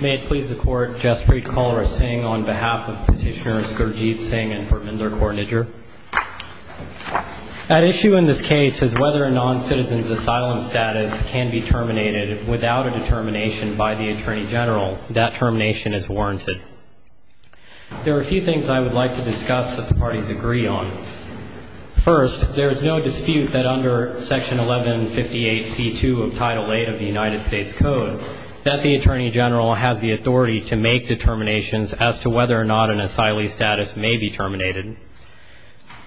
May it please the Court, Jaspreet Kholra Singh on behalf of Petitioners Gurjeet Singh and Praminder Kaur Nijar. At issue in this case is whether a non-citizen's asylum status can be terminated without a determination by the Attorney General. That termination is warranted. There are a few things I would like to discuss that the parties agree on. First, there is no dispute that under Section 1158 C.2 of Title VIII of the United States Code that the Attorney General has the authority to make determinations as to whether or not an asylee's status may be terminated.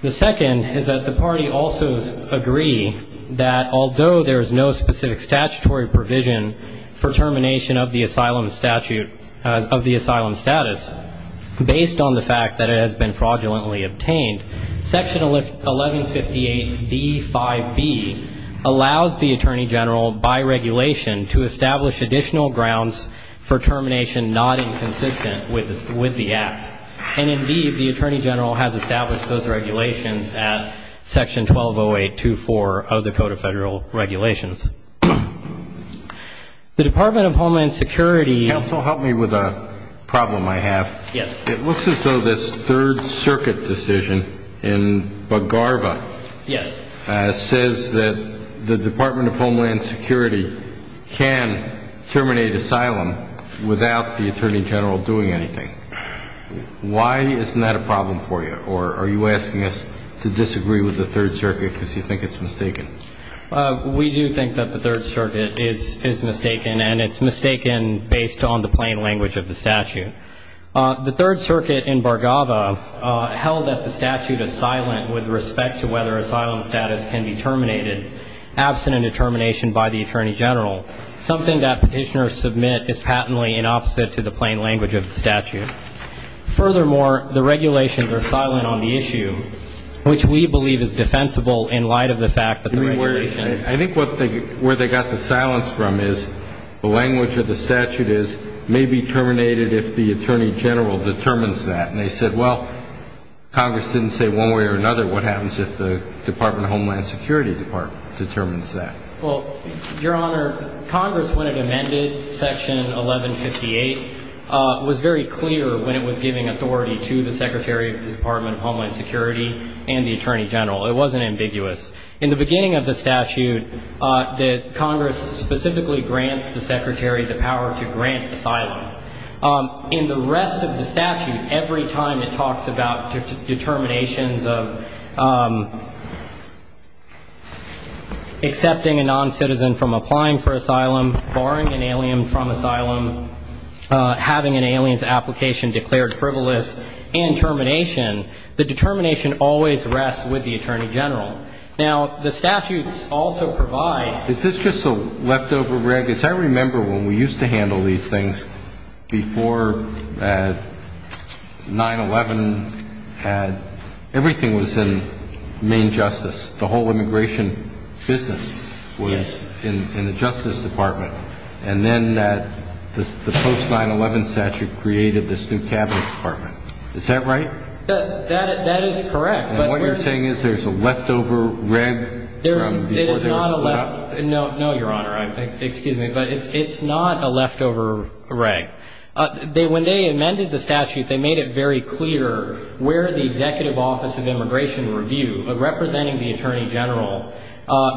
The second is that the parties also agree that although there is no specific statutory provision for termination of the asylum status based on the fact that it has been fraudulently obtained, Section 1158 D.5b allows the Attorney General, by regulation, to establish additional grounds for termination not inconsistent with the Act. And indeed, the Attorney General has established those regulations at Section 1208.2.4 of the Code of Federal Regulations. The Department of Homeland Security Counsel, help me with a problem I have. Yes. It looks as though this Third Circuit decision in Bargava says that the Department of Homeland Security can terminate asylum without the Attorney General doing anything. Why isn't that a problem for you? Or are you asking us to disagree with the Third Circuit because you think it's mistaken? We do think that the Third Circuit is mistaken, and it's mistaken based on the plain language of the statute. The Third Circuit in Bargava held that the statute is silent with respect to whether asylum status can be terminated absent a determination by the Attorney General, something that Petitioners submit is patently inopposite to the plain language of the statute. Furthermore, the regulations are silent on the issue, which we believe is defensible in light of the fact that the regulations – I think what they – where they got the silence from is the language of the statute is, may be terminated if the Attorney General determines that. And they said, well, Congress didn't say one way or another. What happens if the Department of Homeland Security Department determines that? Well, Your Honor, Congress, when it amended Section 1158, was very clear when it was giving authority to the Secretary of the Department of Homeland Security and the Attorney General. It wasn't ambiguous. In the beginning of the statute, that Congress specifically grants the Secretary the power to grant asylum. In the rest of the statute, every time it talks about determinations of accepting a noncitizen from applying for asylum, barring an alien from asylum, having an alien's application declared frivolous, and termination, the determination always rests with the Attorney General. Now, the statutes also provide – I remember when we used to handle these things before 9-11 had – everything was in Maine Justice. The whole immigration business was in the Justice Department. And then that – the post-9-11 statute created this new Cabinet Department. Is that right? That – that is correct, but – And what you're saying is there's a leftover reg from before they were split up? No, no, Your Honor. Excuse me. But it's not a leftover reg. They – when they amended the statute, they made it very clear where the Executive Office of Immigration Review, representing the Attorney General,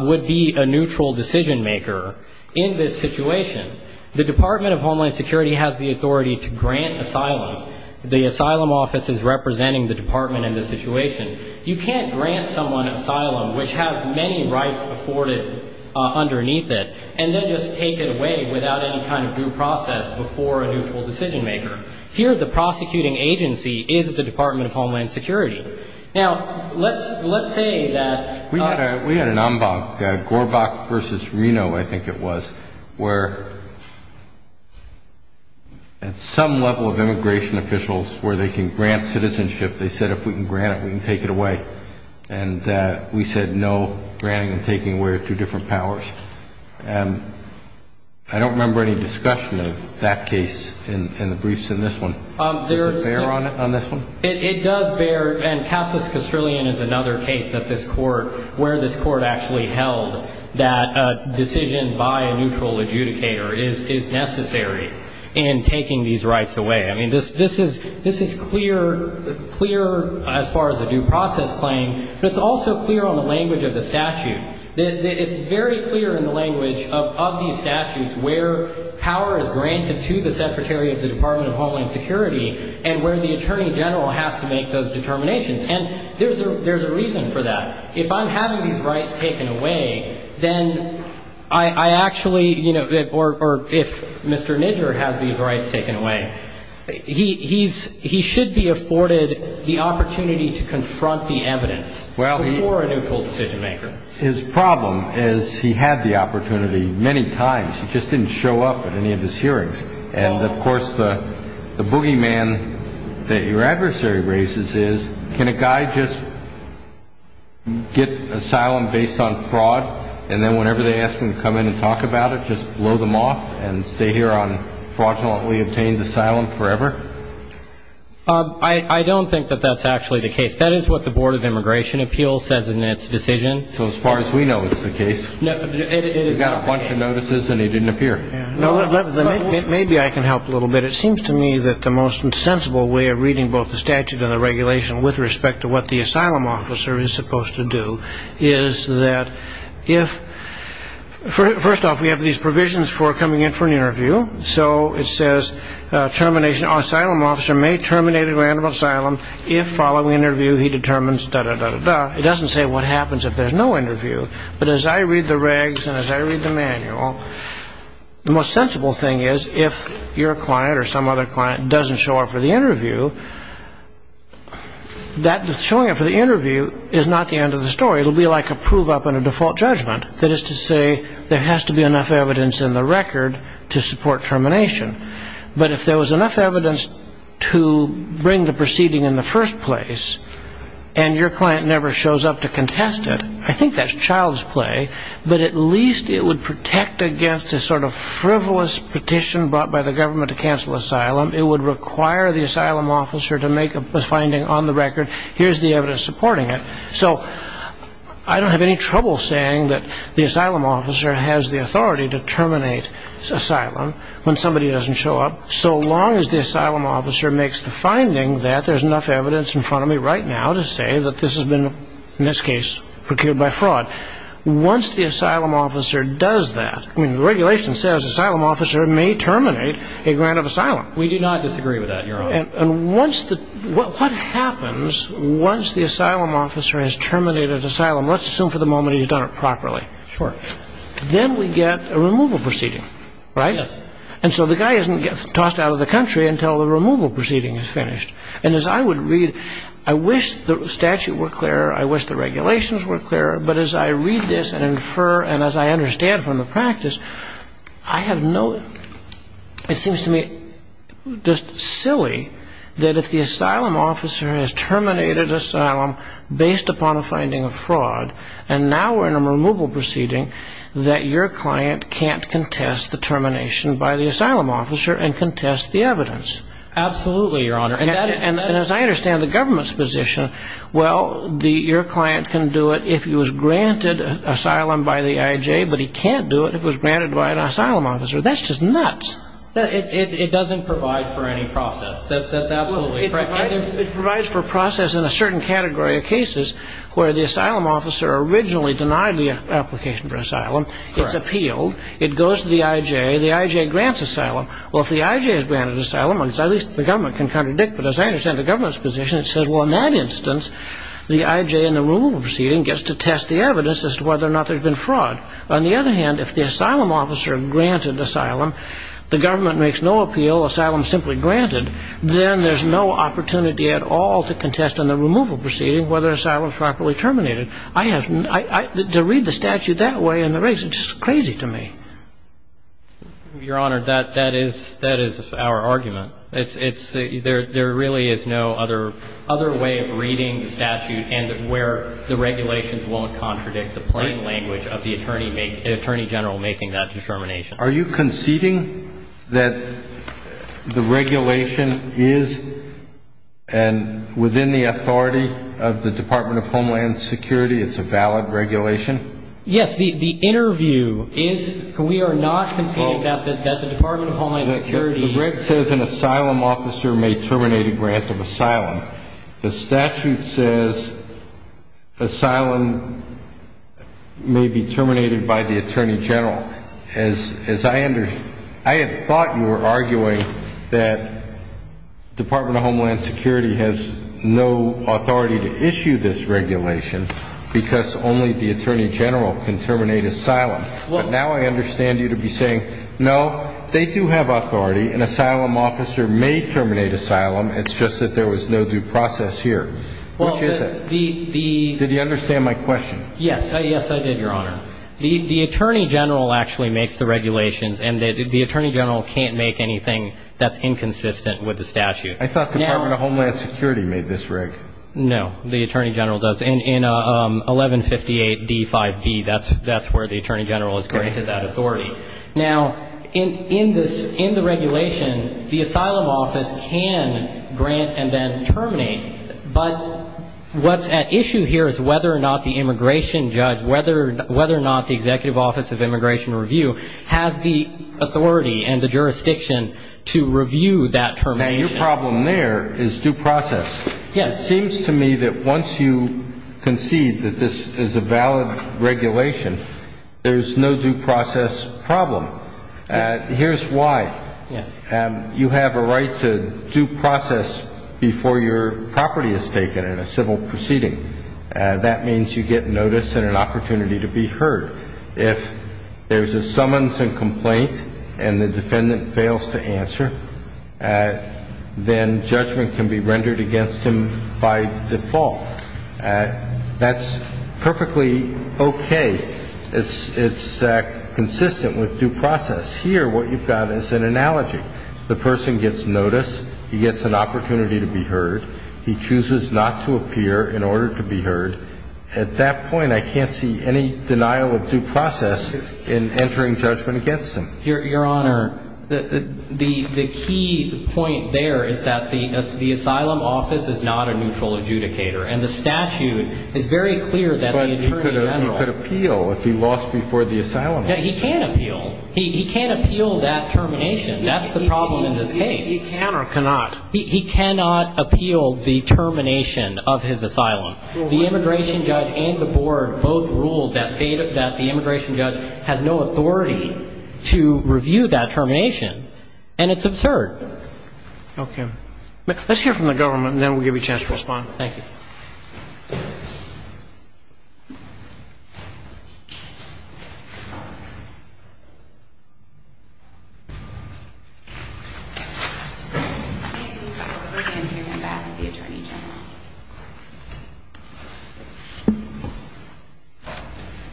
would be a neutral decision-maker in this situation. The Department of Homeland Security has the authority to grant asylum. The Asylum Office is representing the Department in this situation. You can't grant someone asylum, which has many rights afforded underneath it, and then just take it away without any kind of due process before a neutral decision-maker. Here, the prosecuting agency is the Department of Homeland Security. Now, let's – let's say that – We had a – we had an en banc, Gorbach v. Reno, I think it was, where at some level of immigration officials, where they can grant citizenship, they said, if we can grant it, we can take it away. And we said, no, granting and taking away are two different powers. I don't remember any discussion of that case in the briefs in this one. Does it bear on this one? It does bear. And Casas Castrillion is another case that this Court – where this Court actually held that a decision by a neutral adjudicator is necessary in taking these rights away. And it's clear in the language of the statute. It's very clear in the language of these statutes where power is granted to the Secretary of the Department of Homeland Security and where the Attorney General has to make those determinations. And there's a reason for that. If I'm having these rights taken away, then I actually – or if Mr. Kennedy afforded the opportunity to confront the evidence before a neutral decision-maker. Well, his problem is he had the opportunity many times. He just didn't show up at any of his hearings. And, of course, the boogeyman that your adversary raises is, can a guy just get asylum based on fraud, and then whenever they ask him to come in and talk about it, just blow them off and stay here on fraudulently obtained asylum forever? I don't think that that's actually the case. That is what the Board of Immigration Appeals says in its decision. So as far as we know, it's the case. It is the case. He got a bunch of notices and he didn't appear. Maybe I can help a little bit. It seems to me that the most sensible way of reading both the statute and the regulation with respect to what the asylum officer is supposed to do is that if – first off, we have these provisions for coming in for an interview. So it says, termination – asylum officer may terminate a grant of asylum if following interview he determines da-da-da-da-da. It doesn't say what happens if there's no interview. But as I read the regs and as I read the manual, the most sensible thing is if your client or some other client doesn't show up for the interview, that – showing up for the interview is not the end of the story. It'll be like a prove-up and a default judgment. That is to say, there has to be enough evidence in the record to support termination. But if there was enough evidence to bring the proceeding in the first place and your client never shows up to contest it, I think that's child's play. But at least it would protect against a sort of frivolous petition brought by the government to cancel asylum. It would require the asylum officer to make a finding on the record. Here's the evidence supporting it. So, I don't have any trouble saying that the asylum officer has the authority to terminate asylum when somebody doesn't show up, so long as the asylum officer makes the finding that there's enough evidence in front of me right now to say that this has been, in this case, procured by fraud. Once the asylum officer does that – I mean, the regulation says asylum officer may terminate a grant of asylum. We do not disagree with that, Your Honor. And once the – what happens once the asylum officer has terminated asylum – let's assume for the moment he's done it properly. Sure. Then we get a removal proceeding, right? Yes. And so the guy isn't tossed out of the country until the removal proceeding is finished. And as I would read – I wish the statute were clearer. I wish the regulations were clearer. But as I read this and infer and as I understand from the practice, I have no – it seems to me just silly that if the asylum officer has terminated asylum based upon a finding of fraud, and now we're in a removal proceeding, that your client can't contest the termination by the asylum officer and contest the evidence. Absolutely, Your Honor. And as I understand the government's position, well, your client can do it if he was granted asylum by the IJ, but he can't do it if he was granted by an asylum officer. That's just nuts. It doesn't provide for any process. That's absolutely correct. It provides for process in a certain category of cases where the asylum officer originally denied the application for asylum. Correct. It's appealed. It goes to the IJ. The IJ grants asylum. Well, if the IJ has granted asylum, at least the government can contradict, but as I understand the government's position, it says, well, in that instance, the IJ in the removal proceeding gets to test the evidence as to whether or not there's been fraud. On the other hand, if the asylum officer granted asylum, the government makes no appeal, asylum simply granted, then there's no opportunity at all to contest in the removal proceeding whether asylum is properly terminated. I have to read the statute that way in the race. It's just crazy to me. Your Honor, that is our argument. There really is no other way of reading the statute and where the regulations won't contradict the plain language of the attorney general making that determination. Are you conceding that the regulation is, and within the authority of the Department of Homeland Security, it's a valid regulation? Yes. The interview is, we are not conceding that the Department of Homeland Security The reg says an asylum officer may terminate a grant of asylum. The statute says asylum may be terminated by the attorney general. As I understand, I had thought you were arguing that Department of Homeland Security has no authority to issue this regulation because only the attorney general can terminate asylum. But now I understand you to be saying, no, they do have authority. An asylum officer may terminate asylum. It's just that there was no due process here. Which is it? Did you understand my question? Yes. Yes, I did, Your Honor. The attorney general actually makes the regulations. And the attorney general can't make anything that's inconsistent with the statute. I thought Department of Homeland Security made this reg. No. The attorney general does. And in 1158D5B, that's where the attorney general has granted that authority. Now, in the regulation, the asylum office can grant and then terminate, but what's at issue here is whether or not the immigration judge, whether or not the Executive Office of Immigration Review has the authority and the jurisdiction to review that termination. Now, your problem there is due process. Yes. It seems to me that once you concede that this is a valid regulation, there's no due process problem. Here's why. Yes. You have a right to due process before your property is taken in a civil proceeding. That means you get notice and an opportunity to be heard. If there's a summons and complaint and the defendant fails to answer, then judgment can be rendered against him by default. That's perfectly okay. It's consistent with due process. Here, what you've got is an analogy. The person gets notice. He gets an opportunity to be heard. He chooses not to appear in order to be heard. At that point, I can't see any denial of due process in entering judgment against him. Your Honor, the key point there is that the asylum office is not a neutral adjudicator, and the statute is very clear that the attorney general – But he could appeal if he lost before the asylum office. He can appeal. He can appeal that termination. That's the problem in this case. He can or cannot? He cannot appeal the termination of his asylum. The immigration judge and the board both ruled that the immigration judge has no authority to review that termination, and it's absurd. Let's hear from the government, and then we'll give you a chance to respond. Thank you.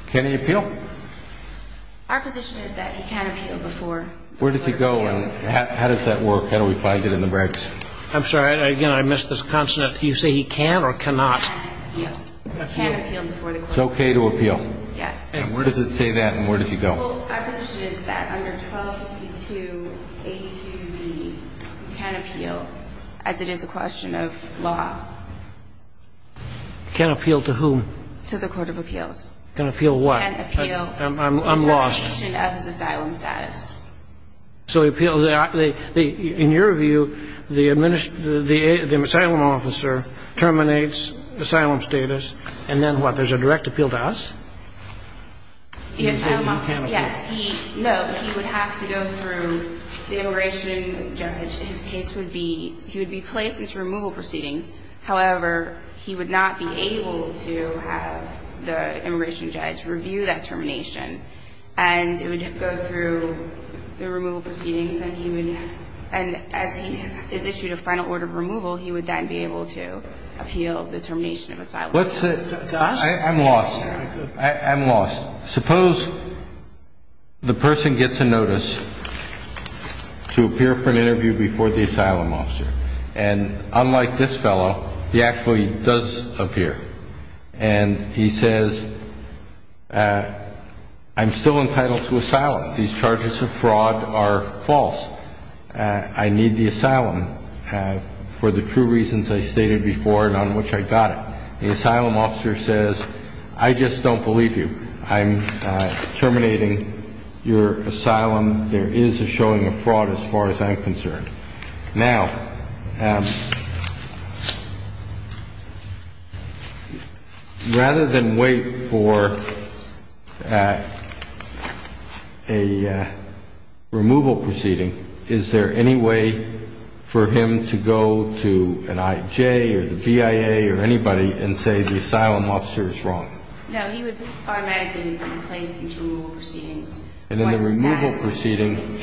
Can he appeal? Our position is that he can appeal before – Where does he go, and how does that work? How do we find it in the breaks? I'm sorry. Again, I missed this consonant. You say he can or cannot? He can appeal. He can appeal before the court. It's okay to appeal? Yes. And where does it say that, and where does he go? Well, our position is that under 1282A2B, he can appeal, as it is a question of law. Can appeal to whom? To the court of appeals. Can appeal what? Can appeal – I'm lost. The termination of his asylum status. So he appealed – in your view, the asylum officer terminates asylum status, and then what, there's a direct appeal to us? The asylum officer, yes. No, he would have to go through the immigration judge. His case would be – he would be placed into removal proceedings. However, he would not be able to have the immigration judge review that termination, and it would go through the removal proceedings, and he would – and as he is issued a final order of removal, he would then be able to appeal the termination of asylum status. Josh? I'm lost. I'm lost. Suppose the person gets a notice to appear for an interview before the asylum officer, and unlike this fellow, he actually does appear. And he says, I'm still entitled to asylum. These charges of fraud are false. I need the asylum for the true reasons I stated before and on which I got it. The asylum officer says, I just don't believe you. I'm terminating your asylum. There is a showing of fraud as far as I'm concerned. Now, rather than wait for a removal proceeding, is there any way for him to go to an IJ or the BIA or anybody and say the asylum officer is wrong? No, he would automatically be placed into removal proceedings. And in the removal proceeding,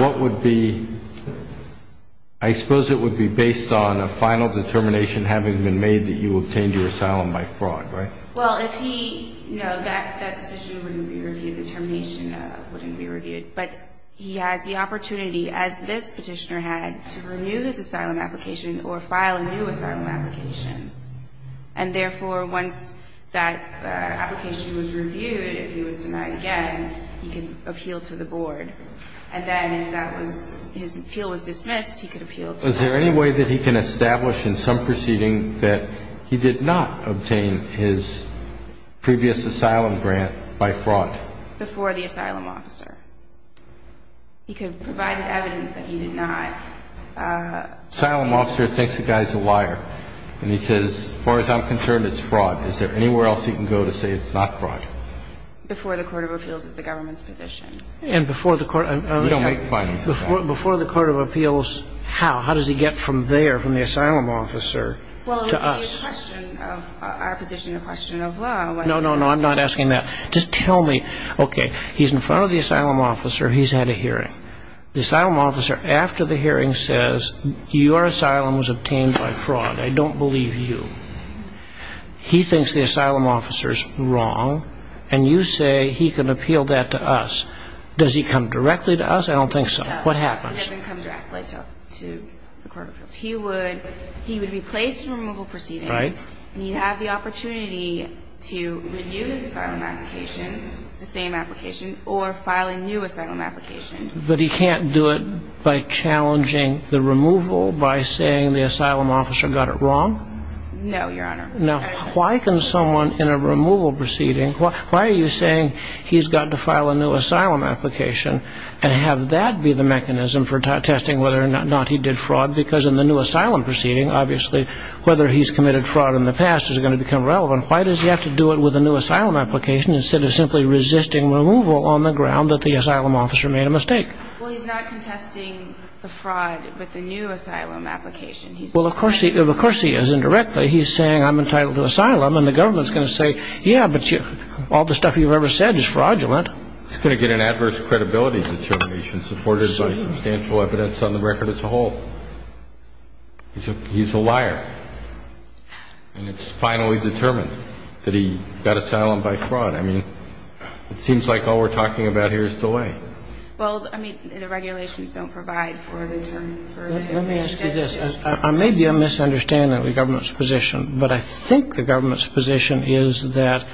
what would be – I suppose it would be based on a final determination having been made that you obtained your asylum by fraud, right? Well, if he – no, that decision wouldn't be reviewed. The termination wouldn't be reviewed. But he has the opportunity, as this petitioner had, to renew his asylum application or file a new asylum application. And therefore, once that application was reviewed, if he was denied again, he could appeal to the board. And then if that was – his appeal was dismissed, he could appeal to the board. Is there any way that he can establish in some proceeding that he did not obtain his previous asylum grant by fraud? Before the asylum officer. He could provide evidence that he did not. Asylum officer thinks the guy's a liar. And he says, as far as I'm concerned, it's fraud. Is there anywhere else he can go to say it's not fraud? Before the court of appeals is the government's position. And before the court of – We don't make findings of that. Before the court of appeals, how? How does he get from there, from the asylum officer, to us? Well, it would be a question of our position, a question of law. No, no, no. I'm not asking that. Just tell me, okay, he's in front of the asylum officer. He's had a hearing. The asylum officer, after the hearing, says, your asylum was obtained by fraud. I don't believe you. He thinks the asylum officer's wrong. And you say he can appeal that to us. Does he come directly to us? I don't think so. What happens? No, he doesn't come directly to the court of appeals. He would be placed in removal proceedings. Right. And he'd have the opportunity to review his asylum application, the same application, or file a new asylum application. But he can't do it by challenging the removal, by saying the asylum officer got it wrong? No, Your Honor. Now, why can someone in a removal proceeding, why are you saying he's got to file a new asylum application and have that be the mechanism for testing whether or not he did fraud? Because in the new asylum proceeding, obviously, whether he's committed fraud in the past is going to become relevant. Why does he have to do it with a new asylum application instead of simply resisting removal on the ground that the asylum officer made a mistake? Well, he's not contesting the fraud with the new asylum application. Well, of course he is indirectly. He's saying I'm entitled to asylum, and the government's going to say, yeah, but all the stuff you've ever said is fraudulent. He's going to get an adverse credibility determination supported by substantial evidence on the record as a whole. He's a liar. And it's finally determined that he got asylum by fraud. I mean, it seems like all we're talking about here is delay. Well, I mean, the regulations don't provide for the determination. Let me ask you this. I may be misunderstanding the government's position, but I think the government's position is that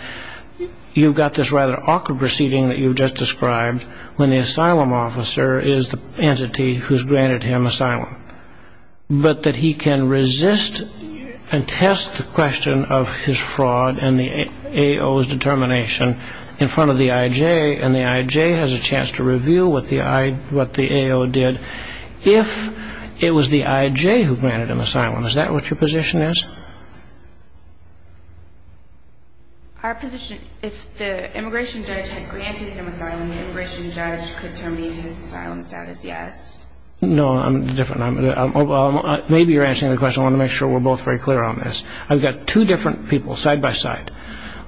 you've got this rather awkward proceeding that you've just described when the asylum officer is the entity who's granted him asylum, but that he can resist and test the question of his fraud and the AO's determination in front of the IJ, and the IJ has a chance to reveal what the AO did if it was the IJ who granted him asylum. Is that what your position is? Our position, if the immigration judge had granted him asylum, the immigration judge could terminate his asylum status, yes. No, I'm different. Maybe you're answering the question. I want to make sure we're both very clear on this. I've got two different people side by side.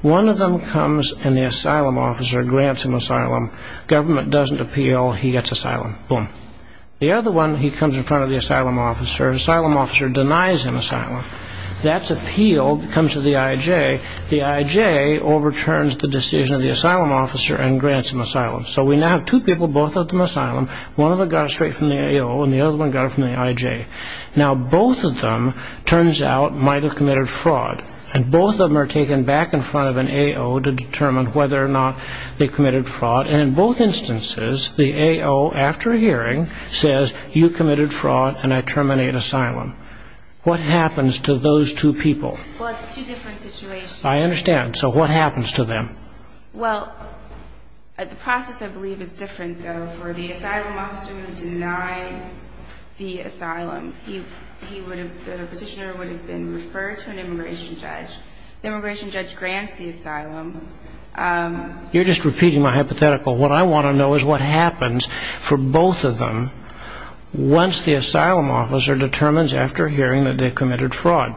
One of them comes and the asylum officer grants him asylum. Government doesn't appeal. He gets asylum. Boom. The other one, he comes in front of the asylum officer. Asylum officer denies him asylum. That's appealed, comes to the IJ. The IJ overturns the decision of the asylum officer and grants him asylum. So we now have two people, both of them asylum. One of them got it straight from the AO, and the other one got it from the IJ. Now, both of them, turns out, might have committed fraud. And both of them are taken back in front of an AO to determine whether or not they committed fraud. And in both instances, the AO, after hearing, says, you committed fraud and I terminate asylum. What happens to those two people? Well, it's two different situations. I understand. So what happens to them? Well, the process, I believe, is different, though. The asylum officer would have denied the asylum. The petitioner would have been referred to an immigration judge. The immigration judge grants the asylum. You're just repeating my hypothetical. What I want to know is what happens for both of them once the asylum officer determines, after hearing, that they committed fraud.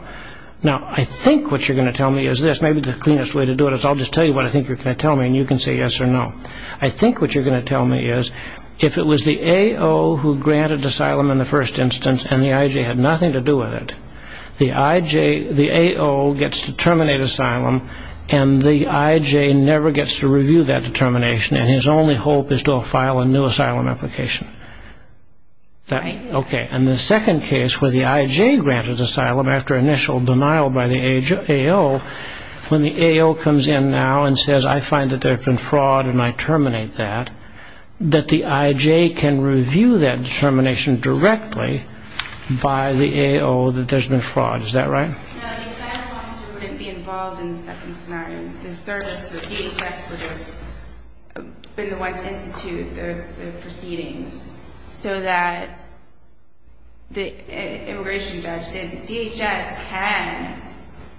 Now, I think what you're going to tell me is this. Maybe the cleanest way to do it is I'll just tell you what I think you're going to tell me, and you can say yes or no. I think what you're going to tell me is, if it was the AO who granted asylum in the first instance and the IJ had nothing to do with it, the AO gets to terminate asylum and the IJ never gets to review that determination, and his only hope is to file a new asylum application. Right. Okay. And the second case where the IJ granted asylum after initial denial by the AO, when the AO comes in now and says, I find that there's been fraud and I terminate that, that the IJ can review that determination directly by the AO that there's been fraud. Is that right? No, the asylum officer wouldn't be involved in the second scenario. The service, the DHS would have been the one to institute the proceedings so that the immigration judge, the DHS can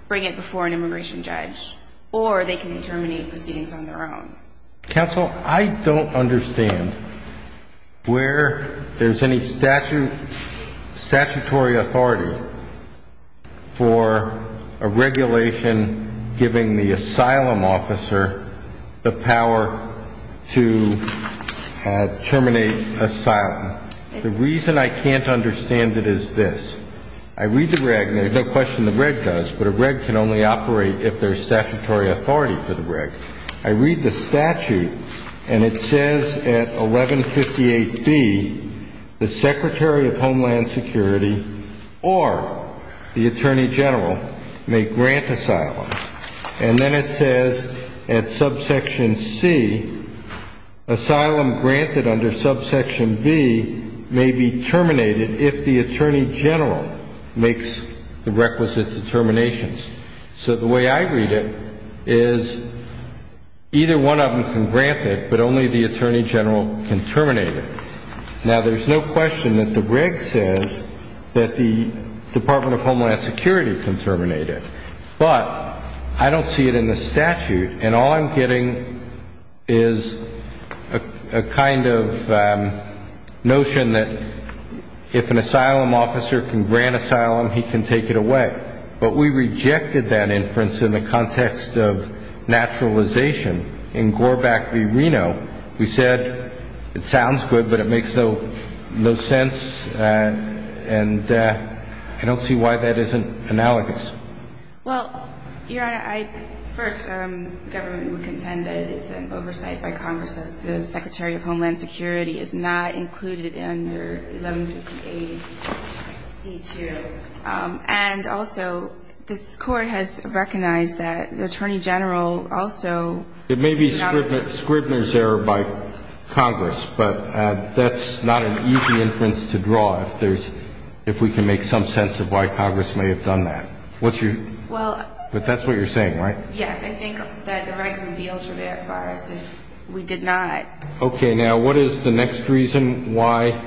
bring it before an immigration judge or they can terminate proceedings on their own. Counsel, I don't understand where there's any statutory authority for a regulation giving the asylum officer the power to terminate asylum. The reason I can't understand it is this. I read the reg, and there's no question the reg does, but a reg can only operate if there's statutory authority for the reg. I read the statute and it says at 1158B, the Secretary of Homeland Security or the Attorney General may grant asylum. And then it says at subsection C, asylum granted under subsection B may be terminated if the Attorney General makes the requisite determinations. So the way I read it is either one of them can grant it, but only the Attorney General can terminate it. Now, there's no question that the reg says that the Department of Homeland Security can terminate it, but I don't see it in the statute, and all I'm getting is a kind of notion that if an asylum officer can grant asylum, he can take it away. But we rejected that inference in the context of naturalization. In Goreback v. Reno, we said it sounds good, but it makes no sense, and I don't see why that isn't analogous. Well, Your Honor, I first, the government would contend that it's an oversight by Congress that the Secretary of Homeland Security is not included under 1158C2. And also, this Court has recognized that the Attorney General also It may be Scribner's error by Congress, but that's not an easy inference to draw if we can make some sense of why Congress may have done that. What's your... Well... But that's what you're saying, right? Yes, I think that the regs would be able to verify us if we did not. Okay, now, what is the next reason why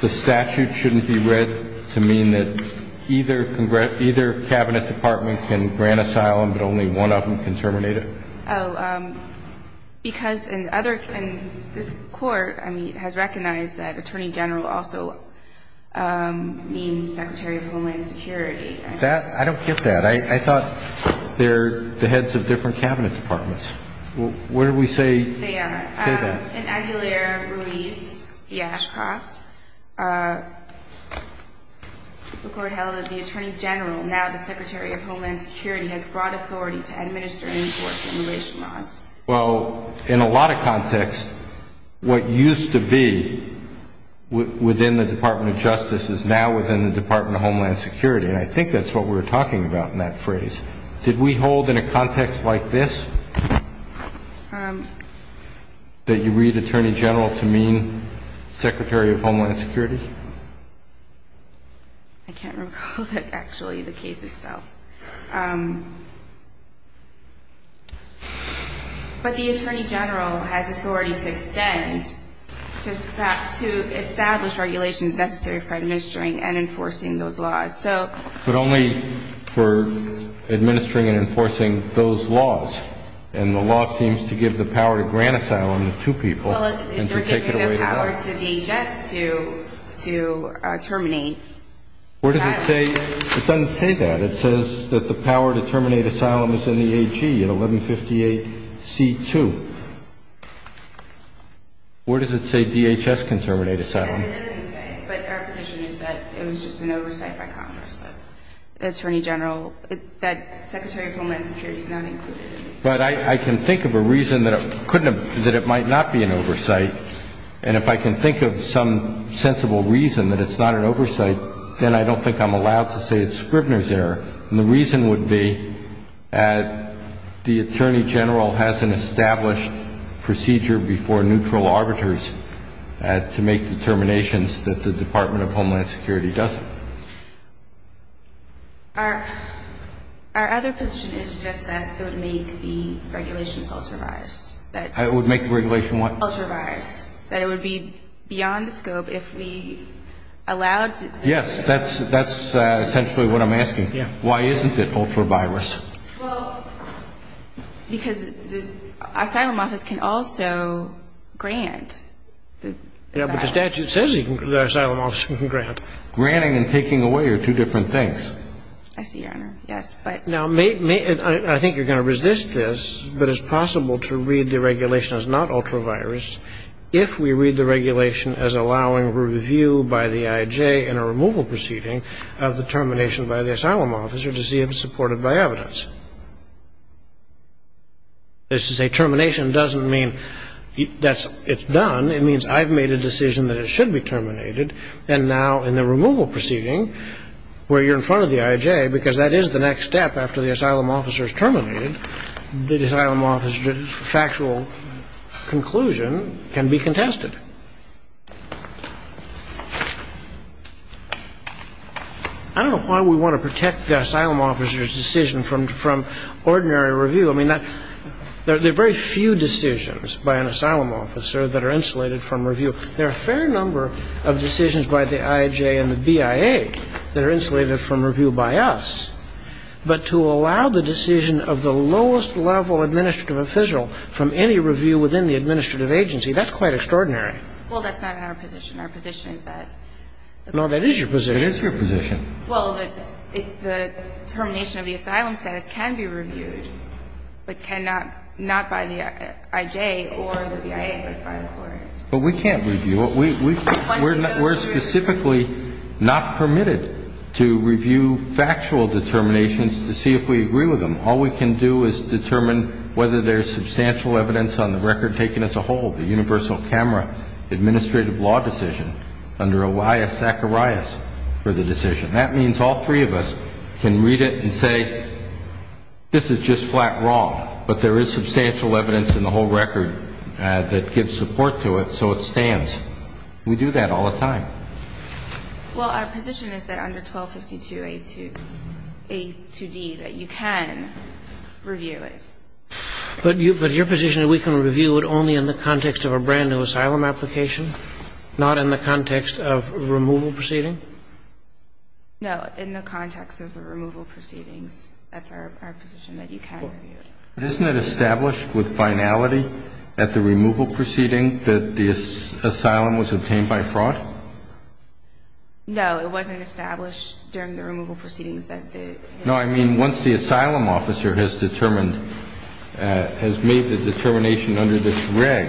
the statute shouldn't be read to mean that either cabinet department can grant asylum, but only one of them can terminate it? Oh, because in other... In this Court, I mean, it has recognized that Attorney General also means Secretary of Homeland Security. That... I don't get that. I thought they're the heads of different cabinet departments. What did we say? They are. Say that. In Aguilera-Ruiz v. Ashcroft, the Court held that the Attorney General, now the Secretary of Homeland Security, has broad authority to administer and enforce immigration laws. Well, in a lot of contexts, what used to be within the Department of Justice is now within the Department of Homeland Security, and I think that's what we were talking about in that phrase. Did we hold in a context like this that you read Attorney General to mean Secretary of Homeland Security? I can't recall, actually, the case itself. But the Attorney General has authority to extend, to establish regulations necessary for administering and enforcing those laws, so... But only for administering and enforcing those laws, and the law seems to give the power to grant asylum to two people... Well, they're giving the power to DHS to terminate asylum. Where does it say... It doesn't say that. It says that the power to terminate asylum is in the AG in 1158C2. Where does it say DHS can terminate asylum? It doesn't say, but our position is that it was just an oversight by Congress that Secretary of Homeland Security is not included. But I can think of a reason that it might not be an oversight, and if I can think of some sensible reason that it's not an oversight, then I don't think I'm allowed to say it's Scribner's error. And the reason would be that the Attorney General has an established procedure before neutral arbiters to make determinations that the Department of Homeland Security doesn't. Our other position is just that it would make the regulations ultra-virus. It would make the regulation what? Ultra-virus. That it would be beyond the scope if we allowed... Yes, that's essentially what I'm asking. Why isn't it ultra-virus? Well, because the Asylum Office can also grant the asylum. Yeah, but the statute says the Asylum Office can grant. Granting and taking away are two different things. I see, Your Honor. Yes, but... Now, I think you're going to resist this, but it's possible to read the regulation as not ultra-virus if we read the regulation as allowing review by the I.I.J. in a removal proceeding of the termination by the Asylum Officer to see if it's supported by evidence. As to say termination doesn't mean that it's done. It means I've made a decision that it should be terminated, and now in the removal proceeding, where you're in front of the I.I.J., because that is the next step after the Asylum Officer is terminated, the Asylum Officer's factual conclusion can be contested. I don't know why we want to protect the Asylum Officer's decision from ordinary review. I mean, there are very few decisions by an Asylum Officer that are insulated from review. There are a fair number of decisions by the I.I.J. and the B.I.A. that are insulated from review by us, but to allow the decision of the lowest-level administrative official from any review within the administrative agency, that's quite extraordinary. Well, that's not in our position. Our position is that... No, that is your position. It is your position. Well, that the termination of the asylum status can be reviewed, but cannot by the I.I.J. or the B.I.A., but by a court. But we can't review. We're specifically not permitted to review factual determinations to see if we agree with them. All we can do is determine whether there's substantial evidence on the record taken as a whole, the universal camera administrative law decision under Elias Zacharias for the decision. That means all three of us can read it and say, this is just flat wrong, but there is substantial evidence in the whole record that gives support to it, so it stands. We do that all the time. Well, our position is that under 1252A2D that you can review it. But your position that we can review it only in the context of a brand-new asylum application, not in the context of a removal proceeding? No, in the context of the removal proceedings. That's our position that you can review it. Isn't it established with finality that the asylum was obtained by fraud? No, it wasn't established during the removal proceedings that the asylum was obtained by fraud. Once the asylum officer has made the determination under this reg,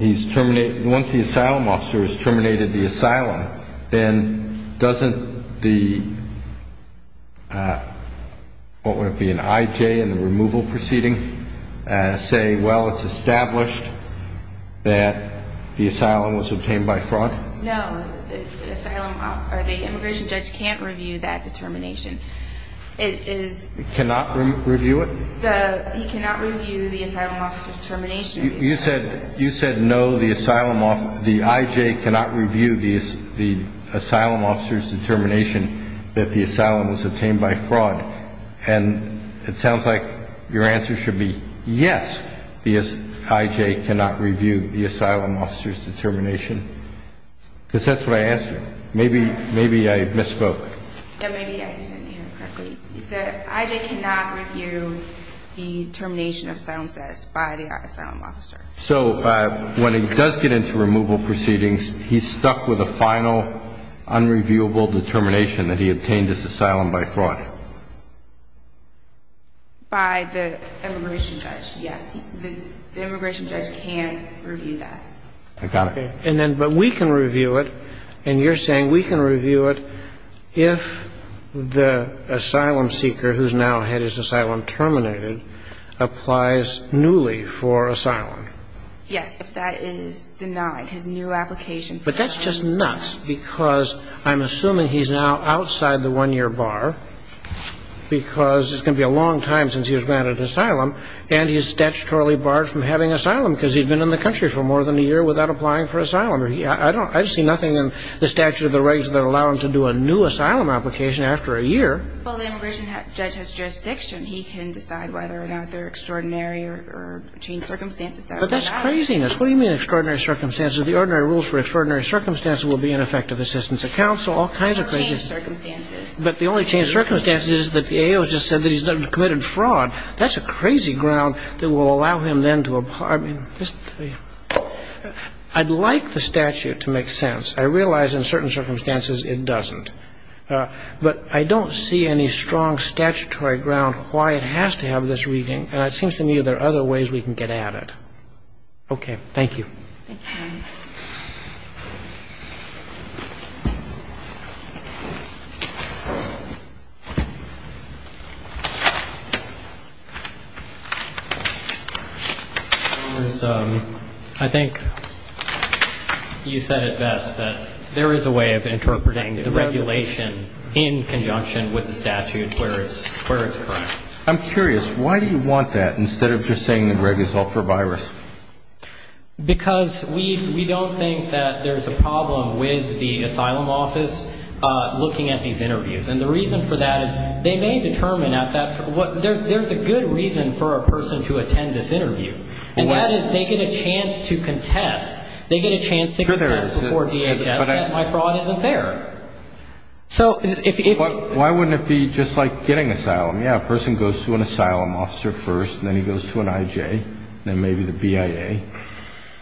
once the asylum officer has terminated the asylum, then doesn't the what would be an IJ in the removal proceeding say, well, it's established that the asylum was obtained by fraud? No. The asylum or the immigration judge can't review that determination. It is cannot review it? The he cannot review the asylum officer's determination. You said you said no, the asylum the IJ cannot review the asylum officer's determination that the asylum was obtained by fraud. And it sounds like your answer should be yes, the IJ cannot review the asylum officer's determination. Because that's what I asked you. Maybe maybe I misspoke. Maybe I didn't hear it correctly. The IJ cannot review the determination of asylum status by the asylum officer. So when he does get into removal proceedings he's stuck with a final unreviewable determination that he obtained this asylum by fraud? By the immigration judge, yes. The immigration judge can't review that. I got it. And then but we can review it and you're saying we can review it if the asylum seeker who's now had his asylum terminated applies newly for asylum. Yes, if that is denied. His new application But that's just nuts because I'm assuming he's now outside the one-year bar because it's going to be a long time since he was granted asylum and he's statutorily barred from having asylum because he's been in the country for more than a year without applying for asylum. I don't I see nothing in the statute of the rights that allow him to do a new asylum application after a year. Well, the immigration judge has jurisdiction. He can decide whether or not there are extraordinary or changed circumstances that are allowed. But that's craziness. What do you mean extraordinary circumstances? The ordinary rules for extraordinary circumstances would be ineffective assistance of counsel. All kinds of crazy circumstances. But the only changed circumstances is that the AO just said that he's committed fraud. That's a crazy ground that will allow him then to get prison. I mean, I'd like the statute to make sense. I realize in certain circumstances it doesn't. But I don't see any strong statutory ground why it has to have this reading and it seems to me there are other ways we can get at it. Okay. Thank you. I think you said it best that there is a way of interpreting the regulation in conjunction with the statute where it's instead of just saying the drug is all for virus? Because the drug is all for virus. The drug is all for virus. The drug is all for virus. Because we don't think that there's a problem with the asylum office looking at these interviews. And the reason for that is they may determine at that there's a good reason for a person to attend this interview. And that is they get a chance to contest before DHS that my fraud isn't there. So if Why wouldn't it be just like getting asylum? Yeah, a person goes to an asylum officer first then he goes to an IJ then maybe the BIA.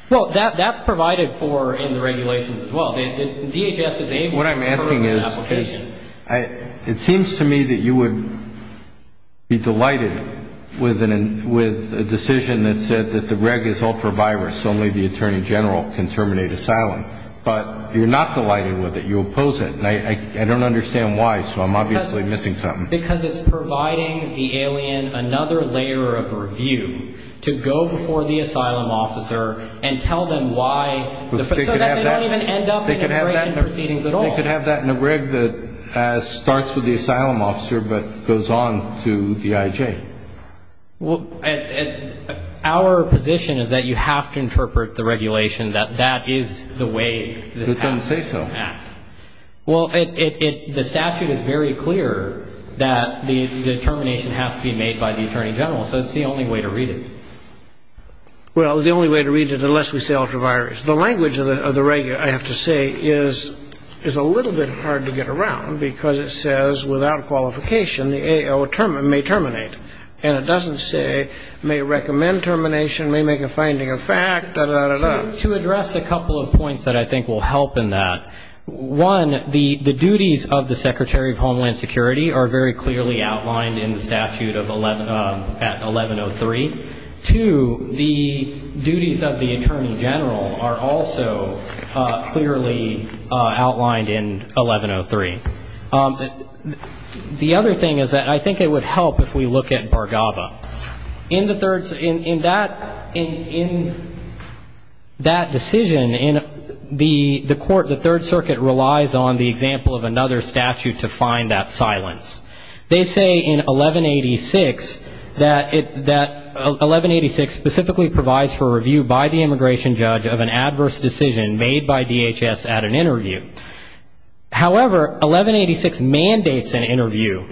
Well, that's provided for in the regulations as well. DHS is able before the asylum officer. The other thing is it seems to me that you would be delighted with a decision that said that the reg is ultra-virus so only the attorney general can terminate asylum. But what about that reg that starts with the asylum officer but goes on to the IJ? Well, our position is that you have to interpret the regulation that that is the way this has to act. It doesn't say so. Well, the statute is very hard to get around because it says without qualification the AO may terminate. And it doesn't say may recommend termination, may make a finding of fact, da-da-da-da. To address a couple of points that I think will help in that, one, the duties of the Secretary of Homeland Security are very clearly outlined in the statute at 1103. Two, the duties of the Attorney General are also clearly outlined in The other thing is that I think it would help if we look at Bhargava. In that decision the court, the Third Circuit actually relies on the example of another statute to find that silence. They say in 1186 that it that 1186 specifically provides for review by the immigration judge of an adverse decision made by DHS at an interview. However, 1186 mandates an appropriate review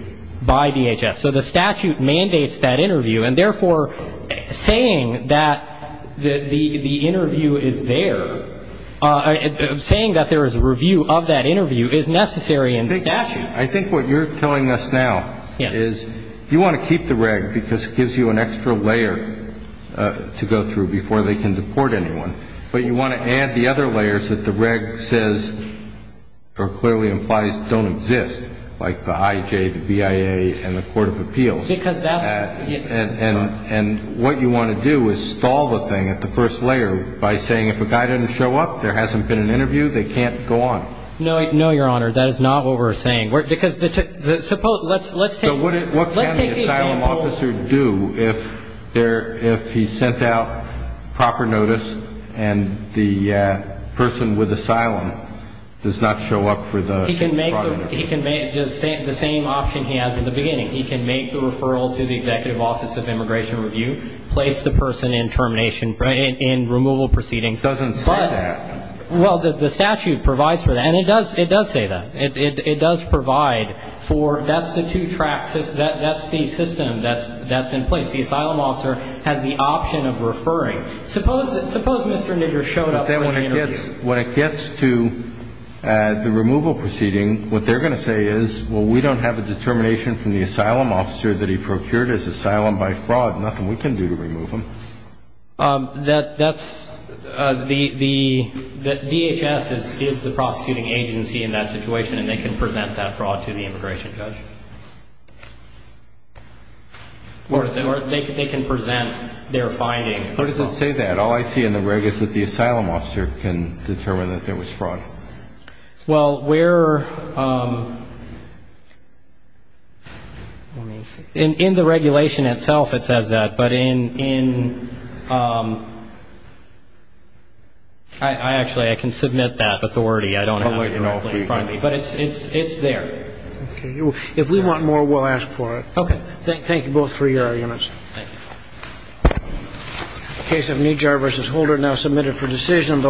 of that interview is necessary in statute. I think what you're telling us now is you want to keep the reg because it gives you an extra layer to go through before they can deport anyone. But you want to add the other layers that the reg says or clearly implies don't exist, like the IJ, the BIA, and the Court of Appeals. And what you want to do is stall the thing at the first layer by saying if a guy doesn't show up, there hasn't been an interview, they can't go on. No, Your Honor, that is not what we're saying. Because let's take the example. So what can the asylum officer do if he's sent out proper notice and the person with asylum does not show up for the interview? He can make the same option he has in the beginning. He can make the referral to the Executive Office of Immigration Review, place the person in termination, in removal proceedings. It doesn't say that. Well, the statute provides for that. And it does say that. It does provide for that's the two tracks, that's the system that's in place. The asylum officer has the option of referring. Suppose Mr. Nigger showed up for an interview. What it gets to at the removal proceeding, what they're going to say is, well, we don't have a determination from the asylum officer that he procured his asylum by fraud, nothing we can do to remove him. That's the DHS is the prosecuting agency in that situation and they can present that fraud to the immigration judge. Or they can present their finding. Where does it say that? All I see in the reg is that the asylum officer can determine that there was fraud. Well, where, in the regulation itself it says that, but in I actually I can submit that authority. I don't have it directly in front of me, but it's there. If we want more, we'll ask for it. Okay. Thank you both for your arguments. Thank you. The case of Mejar v. Holder now submitted for decision.